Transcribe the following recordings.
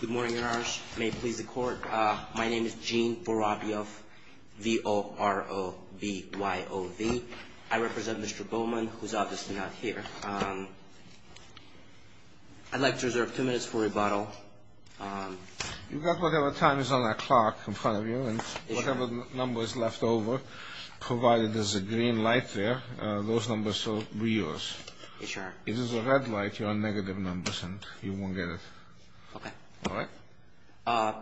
Good morning, your honors. May it please the court. My name is Gene Vorobyov, V-O-R-O-B-Y-O-V. I represent Mr. Bowman, who's obviously not here. I'd like to reserve two minutes for rebuttal. You've got whatever time is on that clock in front of you, and whatever number is left over, provided there's a green light there, those numbers will be yours. If there's a red light, you're on negative numbers, and you won't get it. Okay. All right?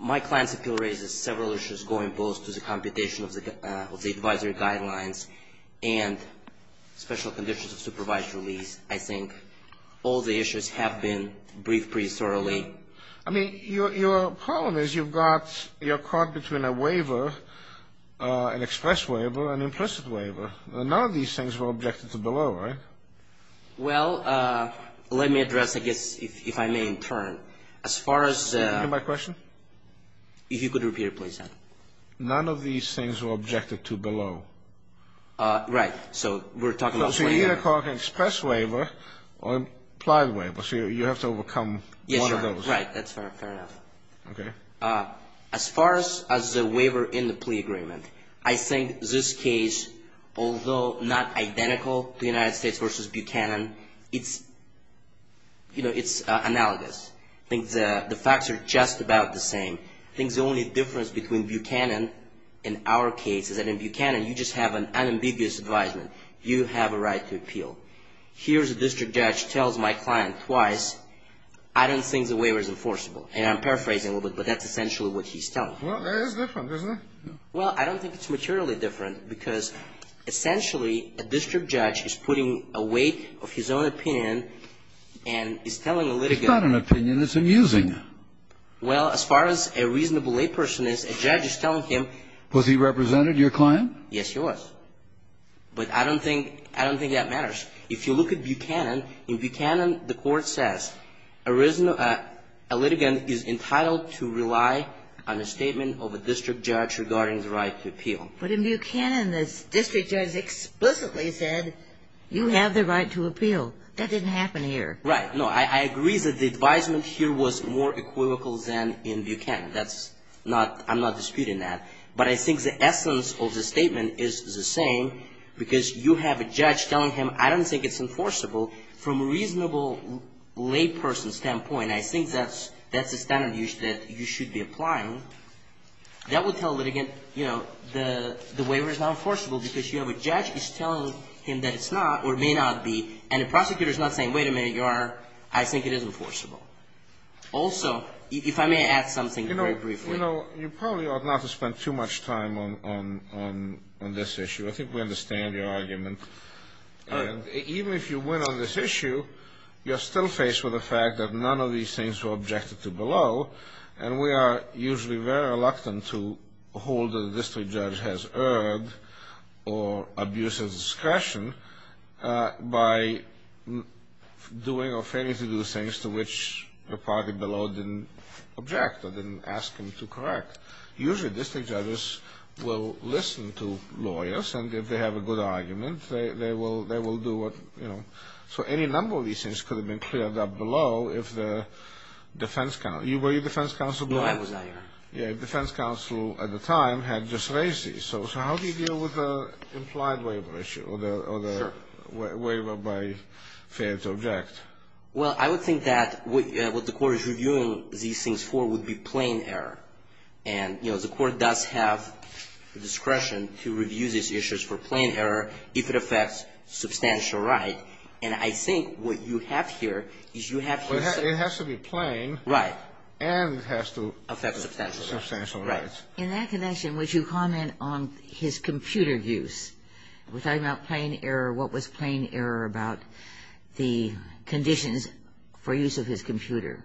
My client's appeal raises several issues going both to the computation of the advisory guidelines and special conditions of supervised release. I think all the issues have been briefed pretty thoroughly. I mean, your problem is you're caught between a waiver, an express waiver, and implicit waiver. None of these things were objected to below, right? Well, let me address, I guess, if I may in turn, as far as... Can you repeat my question? If you could repeat it, please, sir. None of these things were objected to below. Right. So we're talking about... So you're either caught in an express waiver or implied waiver, so you have to overcome one of those. Yes, sir. Right. That's fair enough. Okay. As far as the waiver in the plea agreement, I think this case, although not identical to United States v. Buchanan, it's analogous. I think the facts are just about the same. I think the only difference between Buchanan and our case is that in Buchanan, you just have an unambiguous advisement. You have a right to appeal. Here's a district judge tells my client twice, I don't think the waiver is enforceable. And I'm paraphrasing a little bit, but that's essentially what he's telling. Well, it is different, isn't it? Well, I don't think it's materially different because essentially, a district judge is putting a weight of his own opinion and is telling a litigant... It's not an opinion. It's amusing. Well, as far as a reasonable lay person is, a judge is telling him... Was he representing your client? Yes, he was. But I don't think that matters. If you look at Buchanan, in Buchanan, the court says, a litigant is entitled to rely on a statement of a district judge regarding the right to appeal. But in Buchanan, the district judge explicitly said, you have the right to appeal. That didn't happen here. Right. No, I agree that the advisement here was more equivocal than in Buchanan. That's not, I'm not disputing that. But I think the essence of the statement is the same because you have a judge telling him, I don't think it's enforceable. From a reasonable lay person's standpoint, I think that's a standard use that you should be applying. That would tell a litigant, you know, the waiver is not enforceable because you have a judge who's telling him that it's not or may not be, and the prosecutor's not saying, wait a minute, your Honor, I think it is enforceable. Also, if I may add something very briefly. You know, you probably ought not to spend too much time on this issue. I think we understand your argument. Even if you win on this issue, you're still faced with the fact that none of these things were objected to below, and we are usually very reluctant to hold that a district judge has erred or abuses discretion by doing or failing to do things to which the party below didn't object or didn't ask him to correct. Usually, district judges will listen to lawyers, and if they have a good argument, they will do what, you know. So any number of these things could have been cleared up below if the defense counsel, were you defense counsel? No, I was not, Your Honor. Yeah, defense counsel at the time had just raised these. So how do you deal with the implied waiver issue or the waiver by failure to object? Well, I would think that what the Court is reviewing these things for would be plain error. And, you know, the Court does have the discretion to review these issues for plain error if it affects substantial right. And I think what you have here is you have here some of these things. Well, it has to be plain. Right. And it has to affect substantial rights. Substantial rights. In that connection, would you comment on his computer use? We're talking about plain error. What was plain error about the conditions for use of his computer?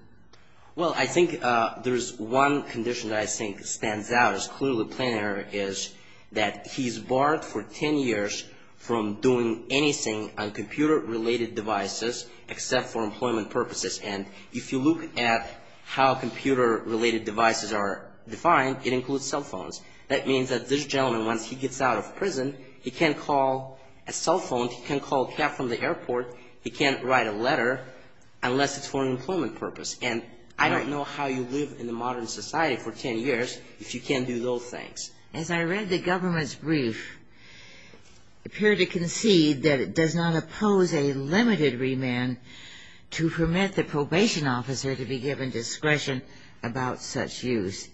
Well, I think there's one condition that I think stands out as clearly plain error is that he's barred for 10 years from doing anything on computer-related devices except for employment purposes. And if you look at how computer-related devices are defined, it includes cell phones. That means that this gentleman, once he gets out of prison, he can't call a cell phone. He can't call a cab from the airport. He can't write a letter unless it's for an employment purpose. And I don't know how you live in the modern society for 10 years if you can't do those things. As I read the government's brief, it appeared to concede that it does not oppose a limited remand to permit the probation officer to be given discretion about such use.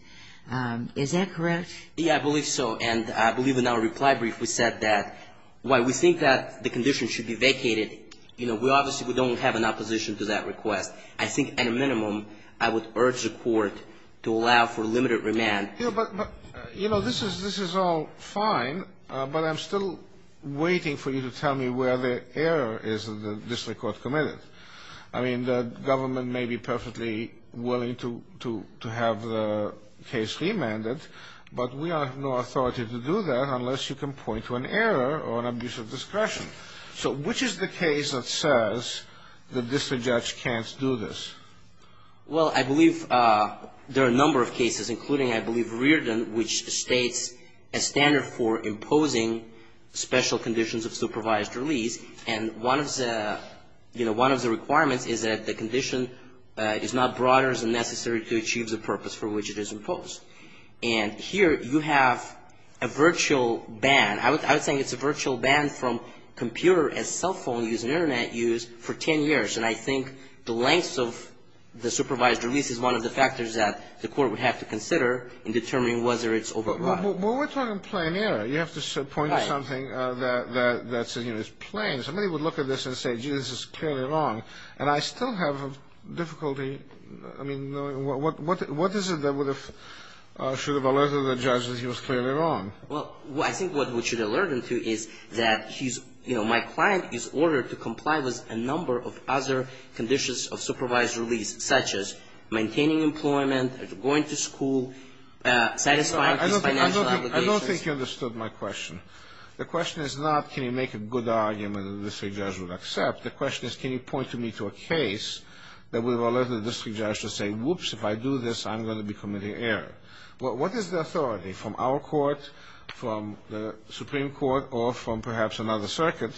Is that correct? Yeah, I believe so. And I believe in our reply brief we said that while we think that the condition should be vacated, you know, we obviously don't have an opposition to that request. I think at a minimum I would urge the court to allow for limited remand. You know, this is all fine, but I'm still waiting for you to tell me where the error is that this court committed. I mean, the government may be perfectly willing to have the case remanded, but we have no authority to do that unless you can point to an error or an abuse of discretion. So which is the case that says the district judge can't do this? Well, I believe there are a number of cases, including, I believe, Reardon, which states a standard for imposing special conditions of supervised release. And one of the, you know, one of the requirements is that the condition is not broad enough and necessary to achieve the purpose for which it is imposed. And here you have a virtual ban. I would say it's a virtual ban from computer and cell phone use and Internet use for 10 years. And I think the length of the supervised release is one of the factors that the court would have to consider in determining whether it's overbroad. Well, we're talking plain error. You have to point to something that's plain. Somebody would look at this and say, gee, this is clearly wrong. And I still have difficulty, I mean, what is it that should have alerted the judge that he was clearly wrong? Well, I think what we should alert him to is that he's, you know, my client is ordered to comply with a number of other conditions of supervised release, such as maintaining employment, going to school, satisfying these financial obligations. I don't think you understood my question. The question is not can you make a good argument that the district judge would accept. The question is can you point to me to a case that would alert the district judge to say, whoops, if I do this, I'm going to be committing error. What is the authority from our court, from the Supreme Court, or from perhaps another circuit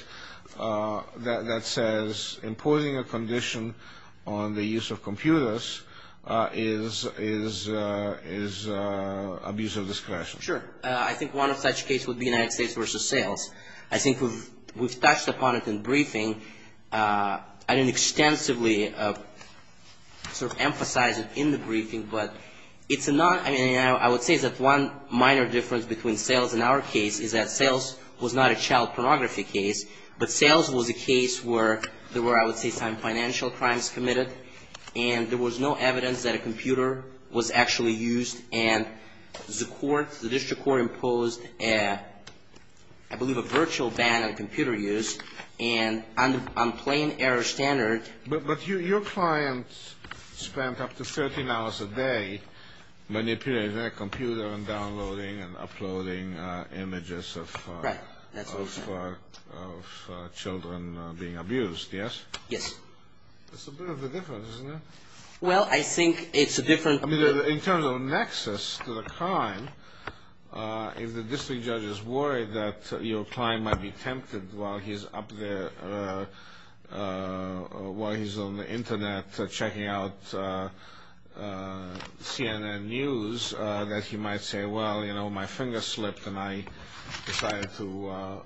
that says imposing a condition on the use of computers is abuse of discretion? Sure. I think one of such cases would be United States v. Sales. I think we've touched upon it in briefing. I didn't extensively sort of emphasize it in the briefing, but it's not, I mean, I would say that one minor difference between Sales and our case is that Sales was not a child pornography case, but Sales was a case where there were, I would say, some financial crimes committed, and there was no evidence that a computer was actually used. And the court, the district court imposed, I believe, a virtual ban on computer use. And on plain error standard ---- So the client spent up to 13 hours a day manipulating their computer and downloading and uploading images of children being abused, yes? Yes. That's a bit of a difference, isn't it? Well, I think it's a different ---- In terms of nexus to the crime, if the district judge is worried that your client might be tempted while he's up there, while he's on the Internet checking out CNN news, that he might say, well, you know, my finger slipped and I decided to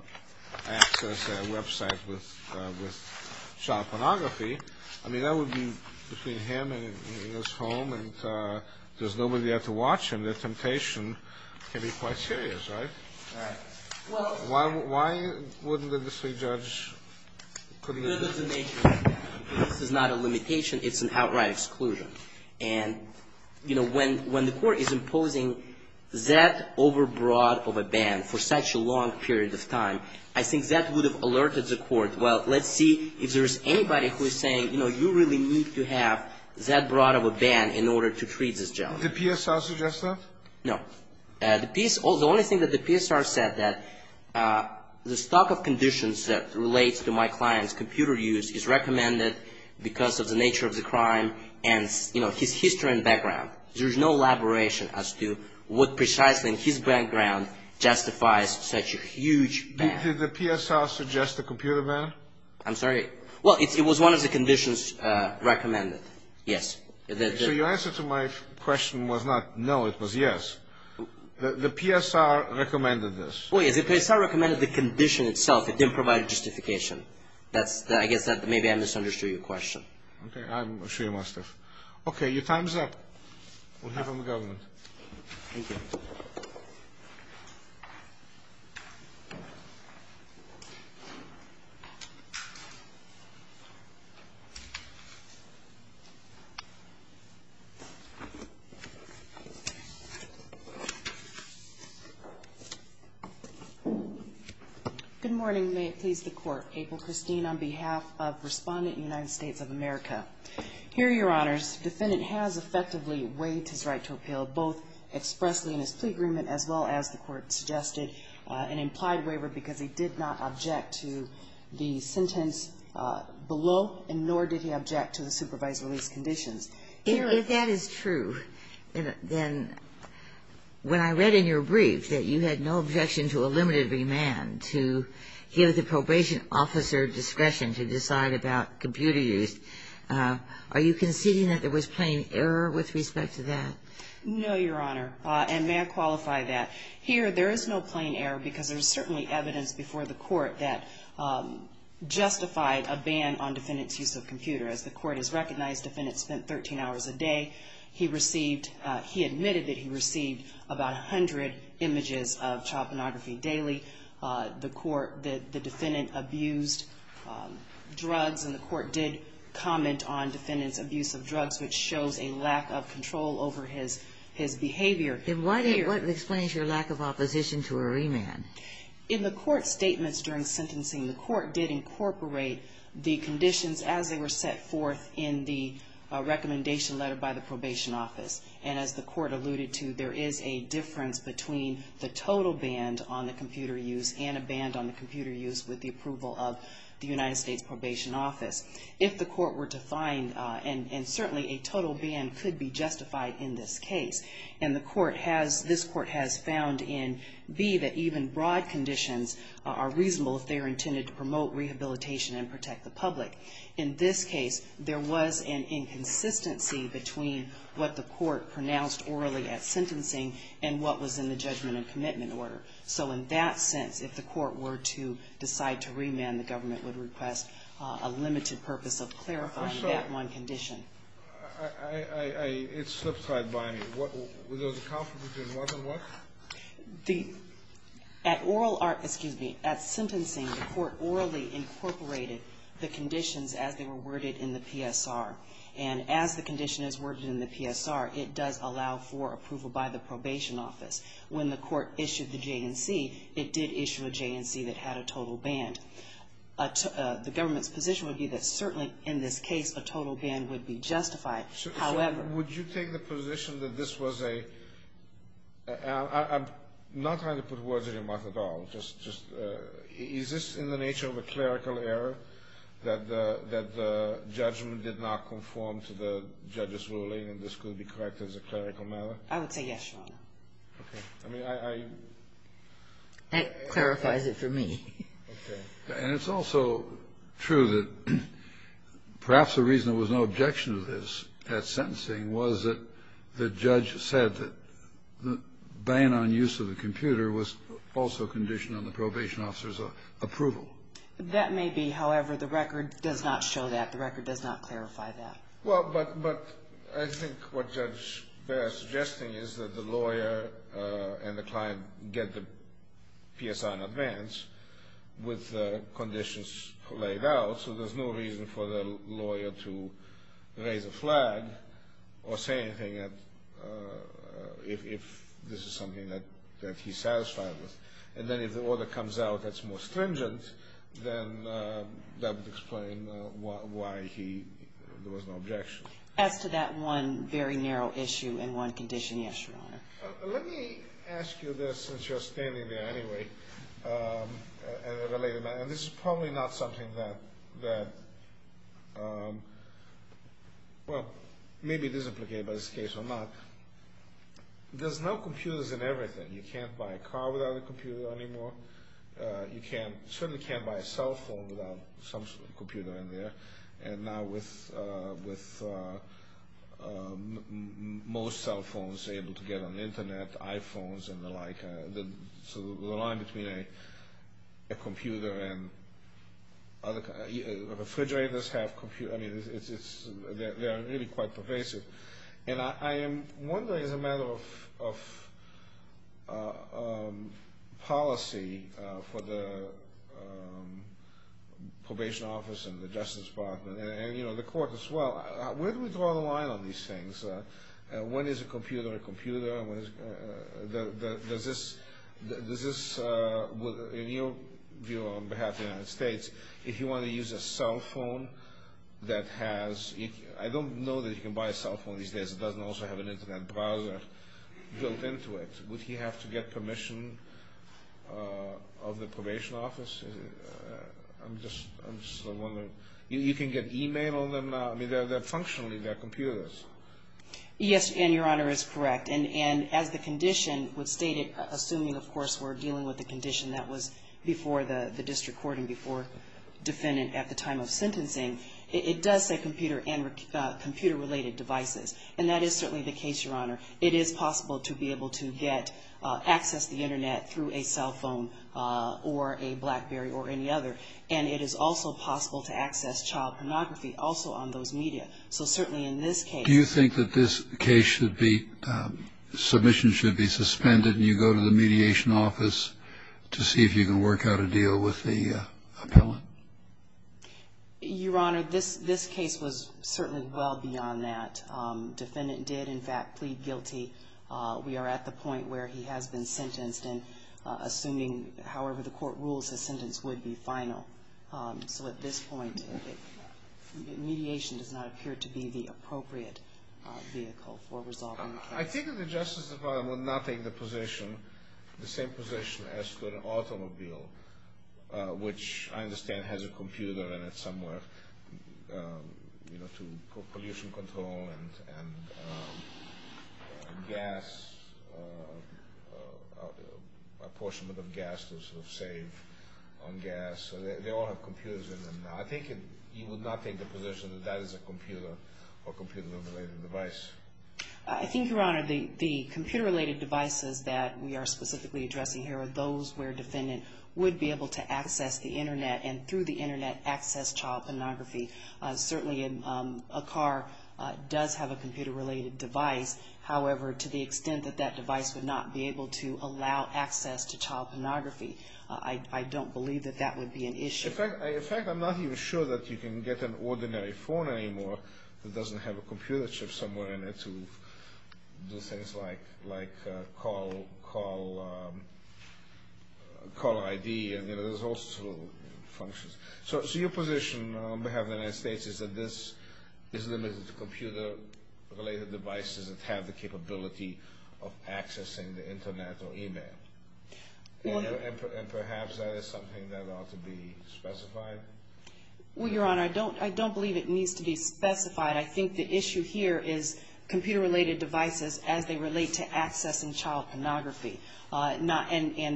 access a website with child pornography, I mean, that would be between him and his home, and there's nobody there to watch him. And the temptation can be quite serious, right? Right. Why wouldn't the district judge ---- Because of the nature of the ban. This is not a limitation. It's an outright exclusion. And, you know, when the court is imposing that over broad of a ban for such a long period of time, I think that would have alerted the court, well, let's see if there's anybody who is saying, you know, you really need to have that broad of a ban in order to treat this gentleman. Did the PSR suggest that? No. The only thing that the PSR said that the stock of conditions that relates to my client's computer use is recommended because of the nature of the crime and, you know, his history and background. There's no elaboration as to what precisely in his background justifies such a huge ban. Did the PSR suggest a computer ban? I'm sorry. Well, it was one of the conditions recommended, yes. So your answer to my question was not no. It was yes. The PSR recommended this. Well, yes. The PSR recommended the condition itself. It didn't provide a justification. I guess that maybe I misunderstood your question. Okay. I'm sure you must have. Okay. Your time is up. We'll hear from the government. Thank you. Good morning. May it please the Court. April Christine on behalf of Respondent United States of America. Here are your honors. Defendant has effectively waived his right to appeal, both expressly in his plea agreement as well as the Court suggested, an implied waiver because he did not object to the sentence below, and nor did he object to the supervised release conditions. If that is true, then when I read in your brief that you had no objection to a limited remand to give the probation officer discretion to decide about computer use, are you conceding that there was plain error with respect to that? No, Your Honor, and may I qualify that? Here there is no plain error because there is certainly evidence before the Court that justified a ban on defendant's use of computer. As the Court has recognized, defendant spent 13 hours a day. He received, he admitted that he received about 100 images of child pornography daily. The Court, the defendant abused drugs, and the Court did comment on defendant's abuse of drugs, which shows a lack of control over his behavior. And what explains your lack of opposition to a remand? In the Court's statements during sentencing, the Court did incorporate the conditions as they were set forth in the recommendation letter by the probation office. And as the Court alluded to, there is a difference between the total ban on the computer use and a ban on the computer use with the approval of the United States Probation Office. If the Court were to find, and certainly a total ban could be justified in this case, and the Court has, this Court has found in B, that even broad conditions are reasonable if they are intended to promote rehabilitation and protect the public. In this case, there was an inconsistency between what the Court pronounced orally at sentencing and what was in the judgment and commitment order. So in that sense, if the Court were to decide to remand, the government would request a limited purpose of clarifying that one condition. I, I, I, it slips right by me. Was there a conflict between what and what? The, at oral or, excuse me, at sentencing, the Court orally incorporated the conditions as they were worded in the PSR. And as the condition is worded in the PSR, it does allow for approval by the probation office. When the Court issued the J&C, it did issue a J&C that had a total ban. The government's position would be that certainly in this case a total ban would be justified. However. Would you take the position that this was a, I'm not trying to put words in your mouth at all. Just, just, is this in the nature of a clerical error that the, that the judgment did not conform to the judge's ruling and this could be corrected as a clerical matter? I would say yes, Your Honor. Okay. I mean, I, I. That clarifies it for me. Okay. And it's also true that perhaps the reason there was no objection to this at sentencing was that the judge said that the ban on use of the computer was also conditioned on the probation officer's approval. That may be. However, the record does not show that. The record does not clarify that. Well, but, but I think what Judge Baer is suggesting is that the lawyer and the client get the PSR in advance with conditions laid out so there's no reason for the lawyer to raise a flag or say anything if this is something that he's satisfied with. And then if the order comes out that's more stringent, then that would explain why he, there was no objection. As to that one very narrow issue and one condition, yes, Your Honor. Let me ask you this since you're standing there anyway. And this is probably not something that, well, maybe it is implicated by this case or not. There's no computers in everything. You can't buy a car without a computer anymore. You certainly can't buy a cell phone without some computer in there. And now with most cell phones able to get on the Internet, iPhones and the like, so the line between a computer and other, refrigerators have computers. I mean, they are really quite pervasive. And I am wondering as a matter of policy for the probation office and the Justice Department, and, you know, the court as well, where do we draw the line on these things? When is a computer a computer? Does this, in your view on behalf of the United States, if you want to use a cell phone that has, I don't know that you can buy a cell phone these days that doesn't also have an Internet browser built into it. Would he have to get permission of the probation office? I'm just wondering. You can get e-mail on them now. I mean, they're functional. They're computers. Yes, and Your Honor is correct. And as the condition would state it, assuming, of course, we're dealing with a condition that was before the district court and before defendant at the time of sentencing, it does say computer and computer related devices. And that is certainly the case, Your Honor. It is possible to be able to get access to the Internet through a cell phone or a BlackBerry or any other. And it is also possible to access child pornography also on those media. So certainly in this case. Do you think that this case should be, submission should be suspended and you go to the mediation office to see if you can work out a deal with the appellant? Your Honor, this case was certainly well beyond that. Defendant did, in fact, plead guilty. We are at the point where he has been sentenced and assuming however the court rules, his sentence would be final. So at this point, mediation does not appear to be the appropriate vehicle for resolving the case. I think that the Justice Department would not take the position, the same position as to an automobile, which I understand has a computer in it somewhere, you know, to pollution control and gas, a portion of the gas to sort of save on gas. They all have computers in them. I think you would not take the position that that is a computer or computer related device. I think, Your Honor, the computer related devices that we are specifically addressing here are those where defendant would be able to access the Internet and through the Internet access child pornography. Certainly a car does have a computer related device. However, to the extent that that device would not be able to allow access to child pornography, I don't believe that that would be an issue. In fact, I'm not even sure that you can get an ordinary phone anymore that doesn't have a computer chip somewhere in it to do things like call ID. You know, there's all sorts of functions. So your position on behalf of the United States is that this is limited to computer related devices that have the capability of accessing the Internet or e-mail. And perhaps that is something that ought to be specified. Well, Your Honor, I don't believe it needs to be specified. I think the issue here is computer related devices as they relate to accessing child pornography. And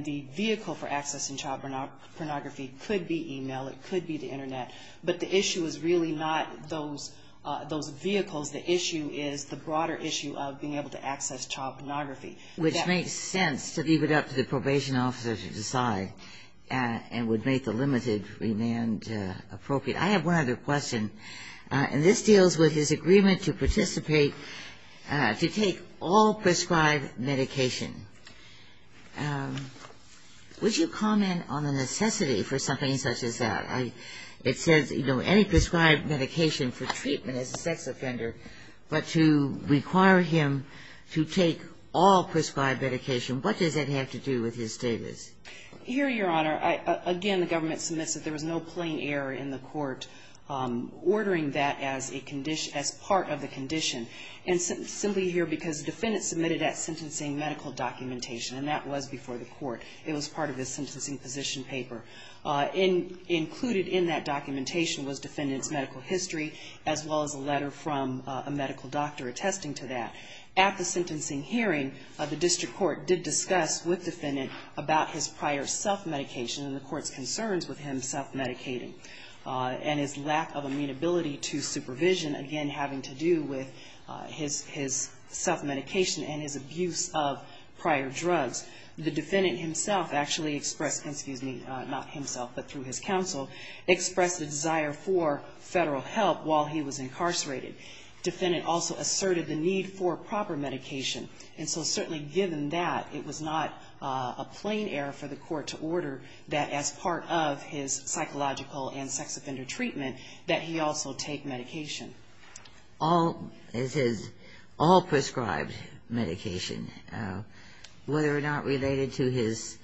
the vehicle for accessing child pornography could be e-mail. It could be the Internet. But the issue is really not those vehicles. The issue is the broader issue of being able to access child pornography. Which makes sense to leave it up to the probation officer to decide and would make the limited remand appropriate. I have one other question. And this deals with his agreement to participate to take all prescribed medication. Would you comment on the necessity for something such as that? It says, you know, any prescribed medication for treatment as a sex offender, but to require him to take all prescribed medication. What does that have to do with his status? Here, Your Honor, again, the government submits that there was no plain error in the court ordering that as a condition, as part of the condition. And simply here because the defendant submitted that sentencing medical documentation, and that was before the court. It was part of the sentencing position paper. Included in that documentation was defendant's medical history, as well as a letter from a medical doctor attesting to that. At the sentencing hearing, the district court did discuss with defendant about his prior self-medication and the court's concerns with him self-medicating. And his lack of amenability to supervision, again, having to do with his self-medication and his abuse of prior drugs. The defendant himself actually expressed, not himself, but through his counsel, expressed a desire for Federal help while he was incarcerated. Defendant also asserted the need for proper medication. And so certainly given that, it was not a plain error for the court to order that as part of his psychological and sex offender treatment that he also take medication. All, it says, all prescribed medication, whether or not related to his,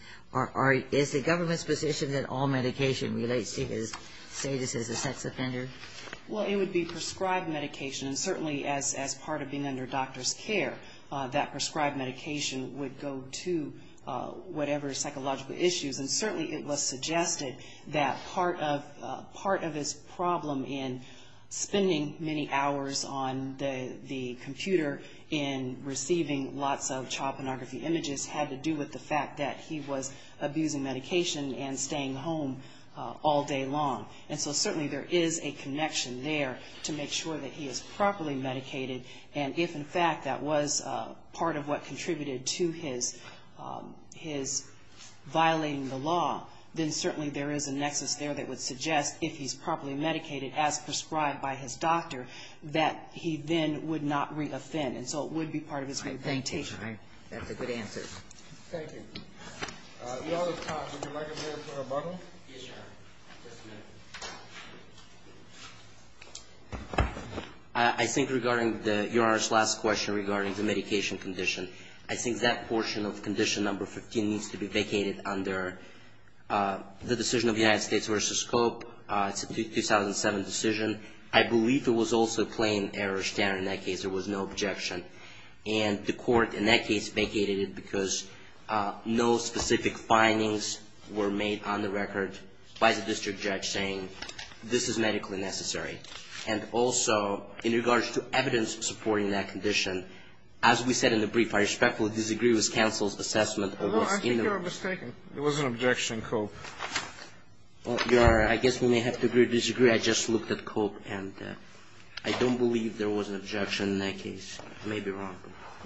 is the government's position that all medication relates to his status as a sex offender? Well, it would be prescribed medication, and certainly as part of being under doctor's care, that prescribed medication would go to whatever psychological issues. And certainly it was suggested that part of his problem in spending many hours on the computer and receiving lots of child pornography images had to do with the fact that he was abusing medication and staying home all day long. And so certainly there is a connection there to make sure that he is properly medicated. And if, in fact, that was part of what contributed to his violating the law, then certainly there is a nexus there that would suggest if he's properly medicated, as prescribed by his doctor, that he then would not reoffend. And so it would be part of his medication. Thank you. That's a good answer. Thank you. We are out of time. Would you like a minute for rebuttal? Yes, Your Honor. Just a minute. I think regarding Your Honor's last question regarding the medication condition, I think that portion of condition number 15 needs to be vacated under the decision of the United States versus COPE. It's a 2007 decision. I believe there was also a plain error standard in that case. There was no objection. And the Court in that case vacated it because no specific findings were made on the record by the district judge saying this is medically necessary. And also, in regards to evidence supporting that condition, as we said in the brief, I respectfully disagree with counsel's assessment. I think you're mistaken. It was an objection, COPE. Well, Your Honor, I guess we may have to agree or disagree. I just looked at COPE, and I don't believe there was an objection in that case. I may be wrong.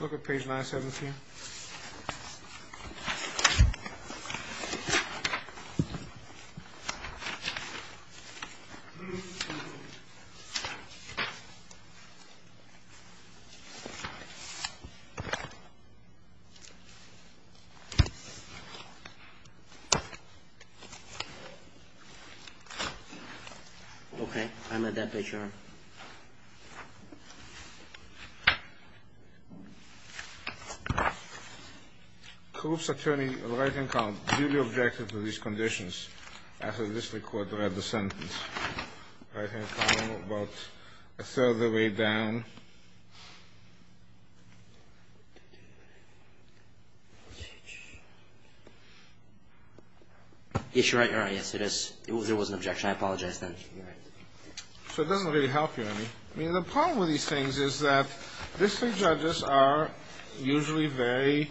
Look at page 917. Okay. I'm at that page, Your Honor. COPE's attorney, right-hand column, duly objected to these conditions after this record read the sentence. Right-hand column, about a third of the way down. Okay. Yes, you're right, Your Honor. Yes, it is. There was an objection. I apologize, then. So it doesn't really help you any. I mean, the problem with these things is that district judges are usually very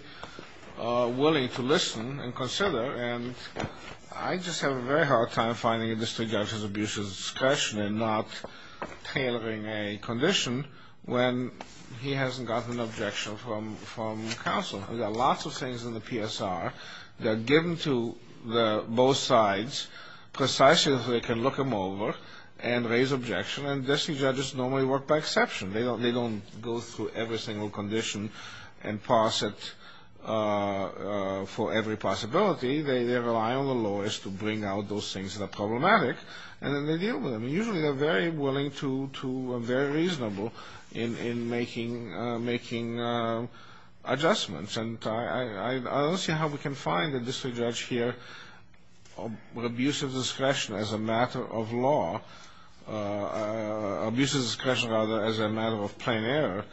willing to listen and consider, and I just have a very hard time finding a district judge's abuse of discretion and not tailoring a condition when he hasn't gotten an objection from counsel. There are lots of things in the PSR that are given to both sides, precisely so they can look them over and raise objection, and district judges normally work by exception. They don't go through every single condition and pass it for every possibility. They rely on the lawyers to bring out those things that are problematic, and then they deal with them. Usually they're very willing to and very reasonable in making adjustments, and I don't see how we can find a district judge here with abuse of discretion as a matter of law, abuse of discretion rather as a matter of plain error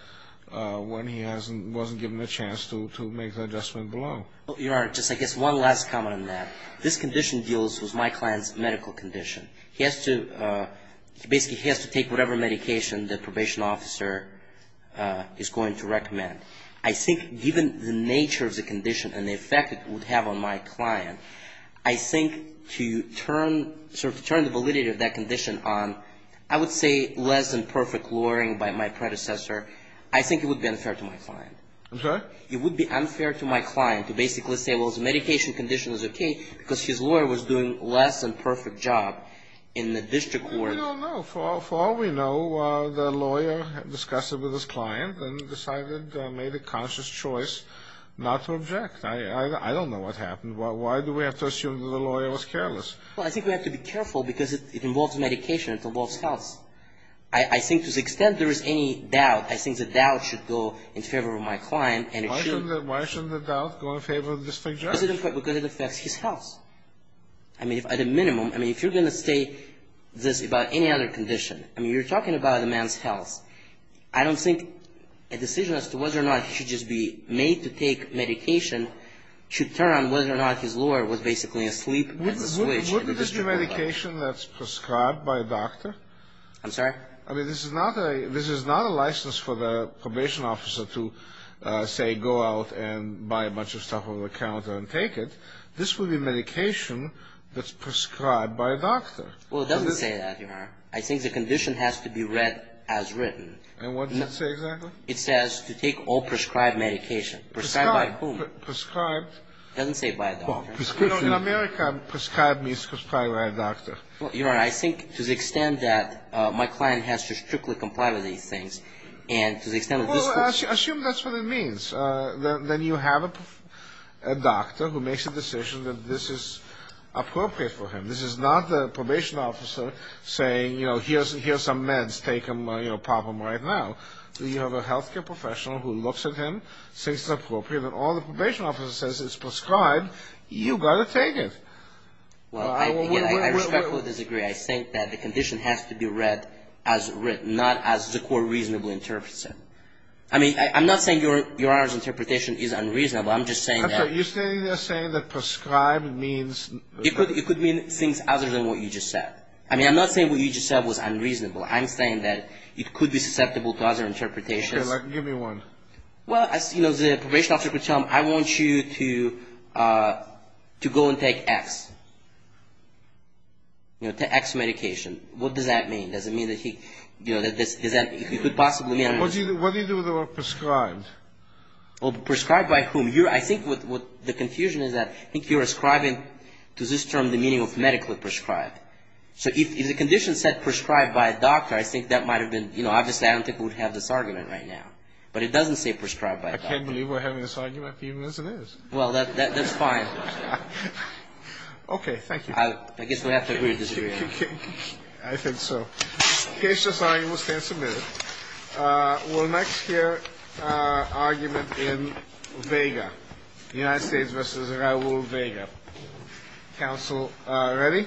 when he wasn't given a chance to make the adjustment below. Your Honor, just I guess one last comment on that. This condition deals with my client's medical condition. He has to, basically he has to take whatever medication the probation officer is going to recommend. I think given the nature of the condition and the effect it would have on my client, I think to turn, sort of turn the validity of that condition on, I would say less than perfect lawyering by my predecessor. I think it would be unfair to my client. I'm sorry? It would be unfair to my client to basically say, well, his medication condition is okay because his lawyer was doing less than perfect job in the district court. No, no, no. For all we know, the lawyer discussed it with his client and decided, made a conscious choice not to object. I don't know what happened. Why do we have to assume that the lawyer was careless? Well, I think we have to be careful because it involves medication. It involves health. I think to the extent there is any doubt, I think the doubt should go in favor of my client and it should. Why shouldn't the doubt go in favor of the district judge? Because it affects his health. I mean, at a minimum, I mean, if you're going to state this about any other condition, I mean, you're talking about a man's health. I don't think a decision as to whether or not he should just be made to take medication should turn on whether or not his lawyer was basically asleep. Wouldn't this be medication that's prescribed by a doctor? I'm sorry? I mean, this is not a license for the probation officer to, say, go out and buy a bunch of stuff on the counter and take it. This would be medication that's prescribed by a doctor. Well, it doesn't say that, Your Honor. I think the condition has to be read as written. And what does it say exactly? It says to take all prescribed medication. Prescribed. Prescribed by whom? Prescribed. It doesn't say by a doctor. Well, in America, prescribed means prescribed by a doctor. Well, Your Honor, I think to the extent that my client has to strictly comply with these things and to the extent that this is – Well, assume that's what it means. Then you have a doctor who makes a decision that this is appropriate for him. This is not the probation officer saying, you know, here are some meds. Take them, you know, pop them right now. You have a health care professional who looks at him, thinks it's appropriate, and all the probation officer says it's prescribed. You've got to take it. Well, I respectfully disagree. I think that the condition has to be read as written, not as the court reasonably interprets it. I mean, I'm not saying Your Honor's interpretation is unreasonable. I'm just saying that – I'm sorry. You're standing there saying that prescribed means – It could mean things other than what you just said. I mean, I'm not saying what you just said was unreasonable. I'm saying that it could be susceptible to other interpretations. Okay, give me one. Well, you know, the probation officer could tell him, I want you to go and take X. You know, take X medication. What does that mean? Does it mean that he, you know, that this – What do you do with the word prescribed? Well, prescribed by whom? I think what the confusion is that I think you're ascribing to this term the meaning of medically prescribed. So if the condition said prescribed by a doctor, I think that might have been, you know, obviously I don't think we would have this argument right now. But it doesn't say prescribed by a doctor. I can't believe we're having this argument, even as it is. Well, that's fine. Okay, thank you. I guess we'll have to agree or disagree. I think so. The case is signed. We'll stand submitted. We'll next hear argument in Vega, United States v. Raul Vega. Counsel ready? Thank you.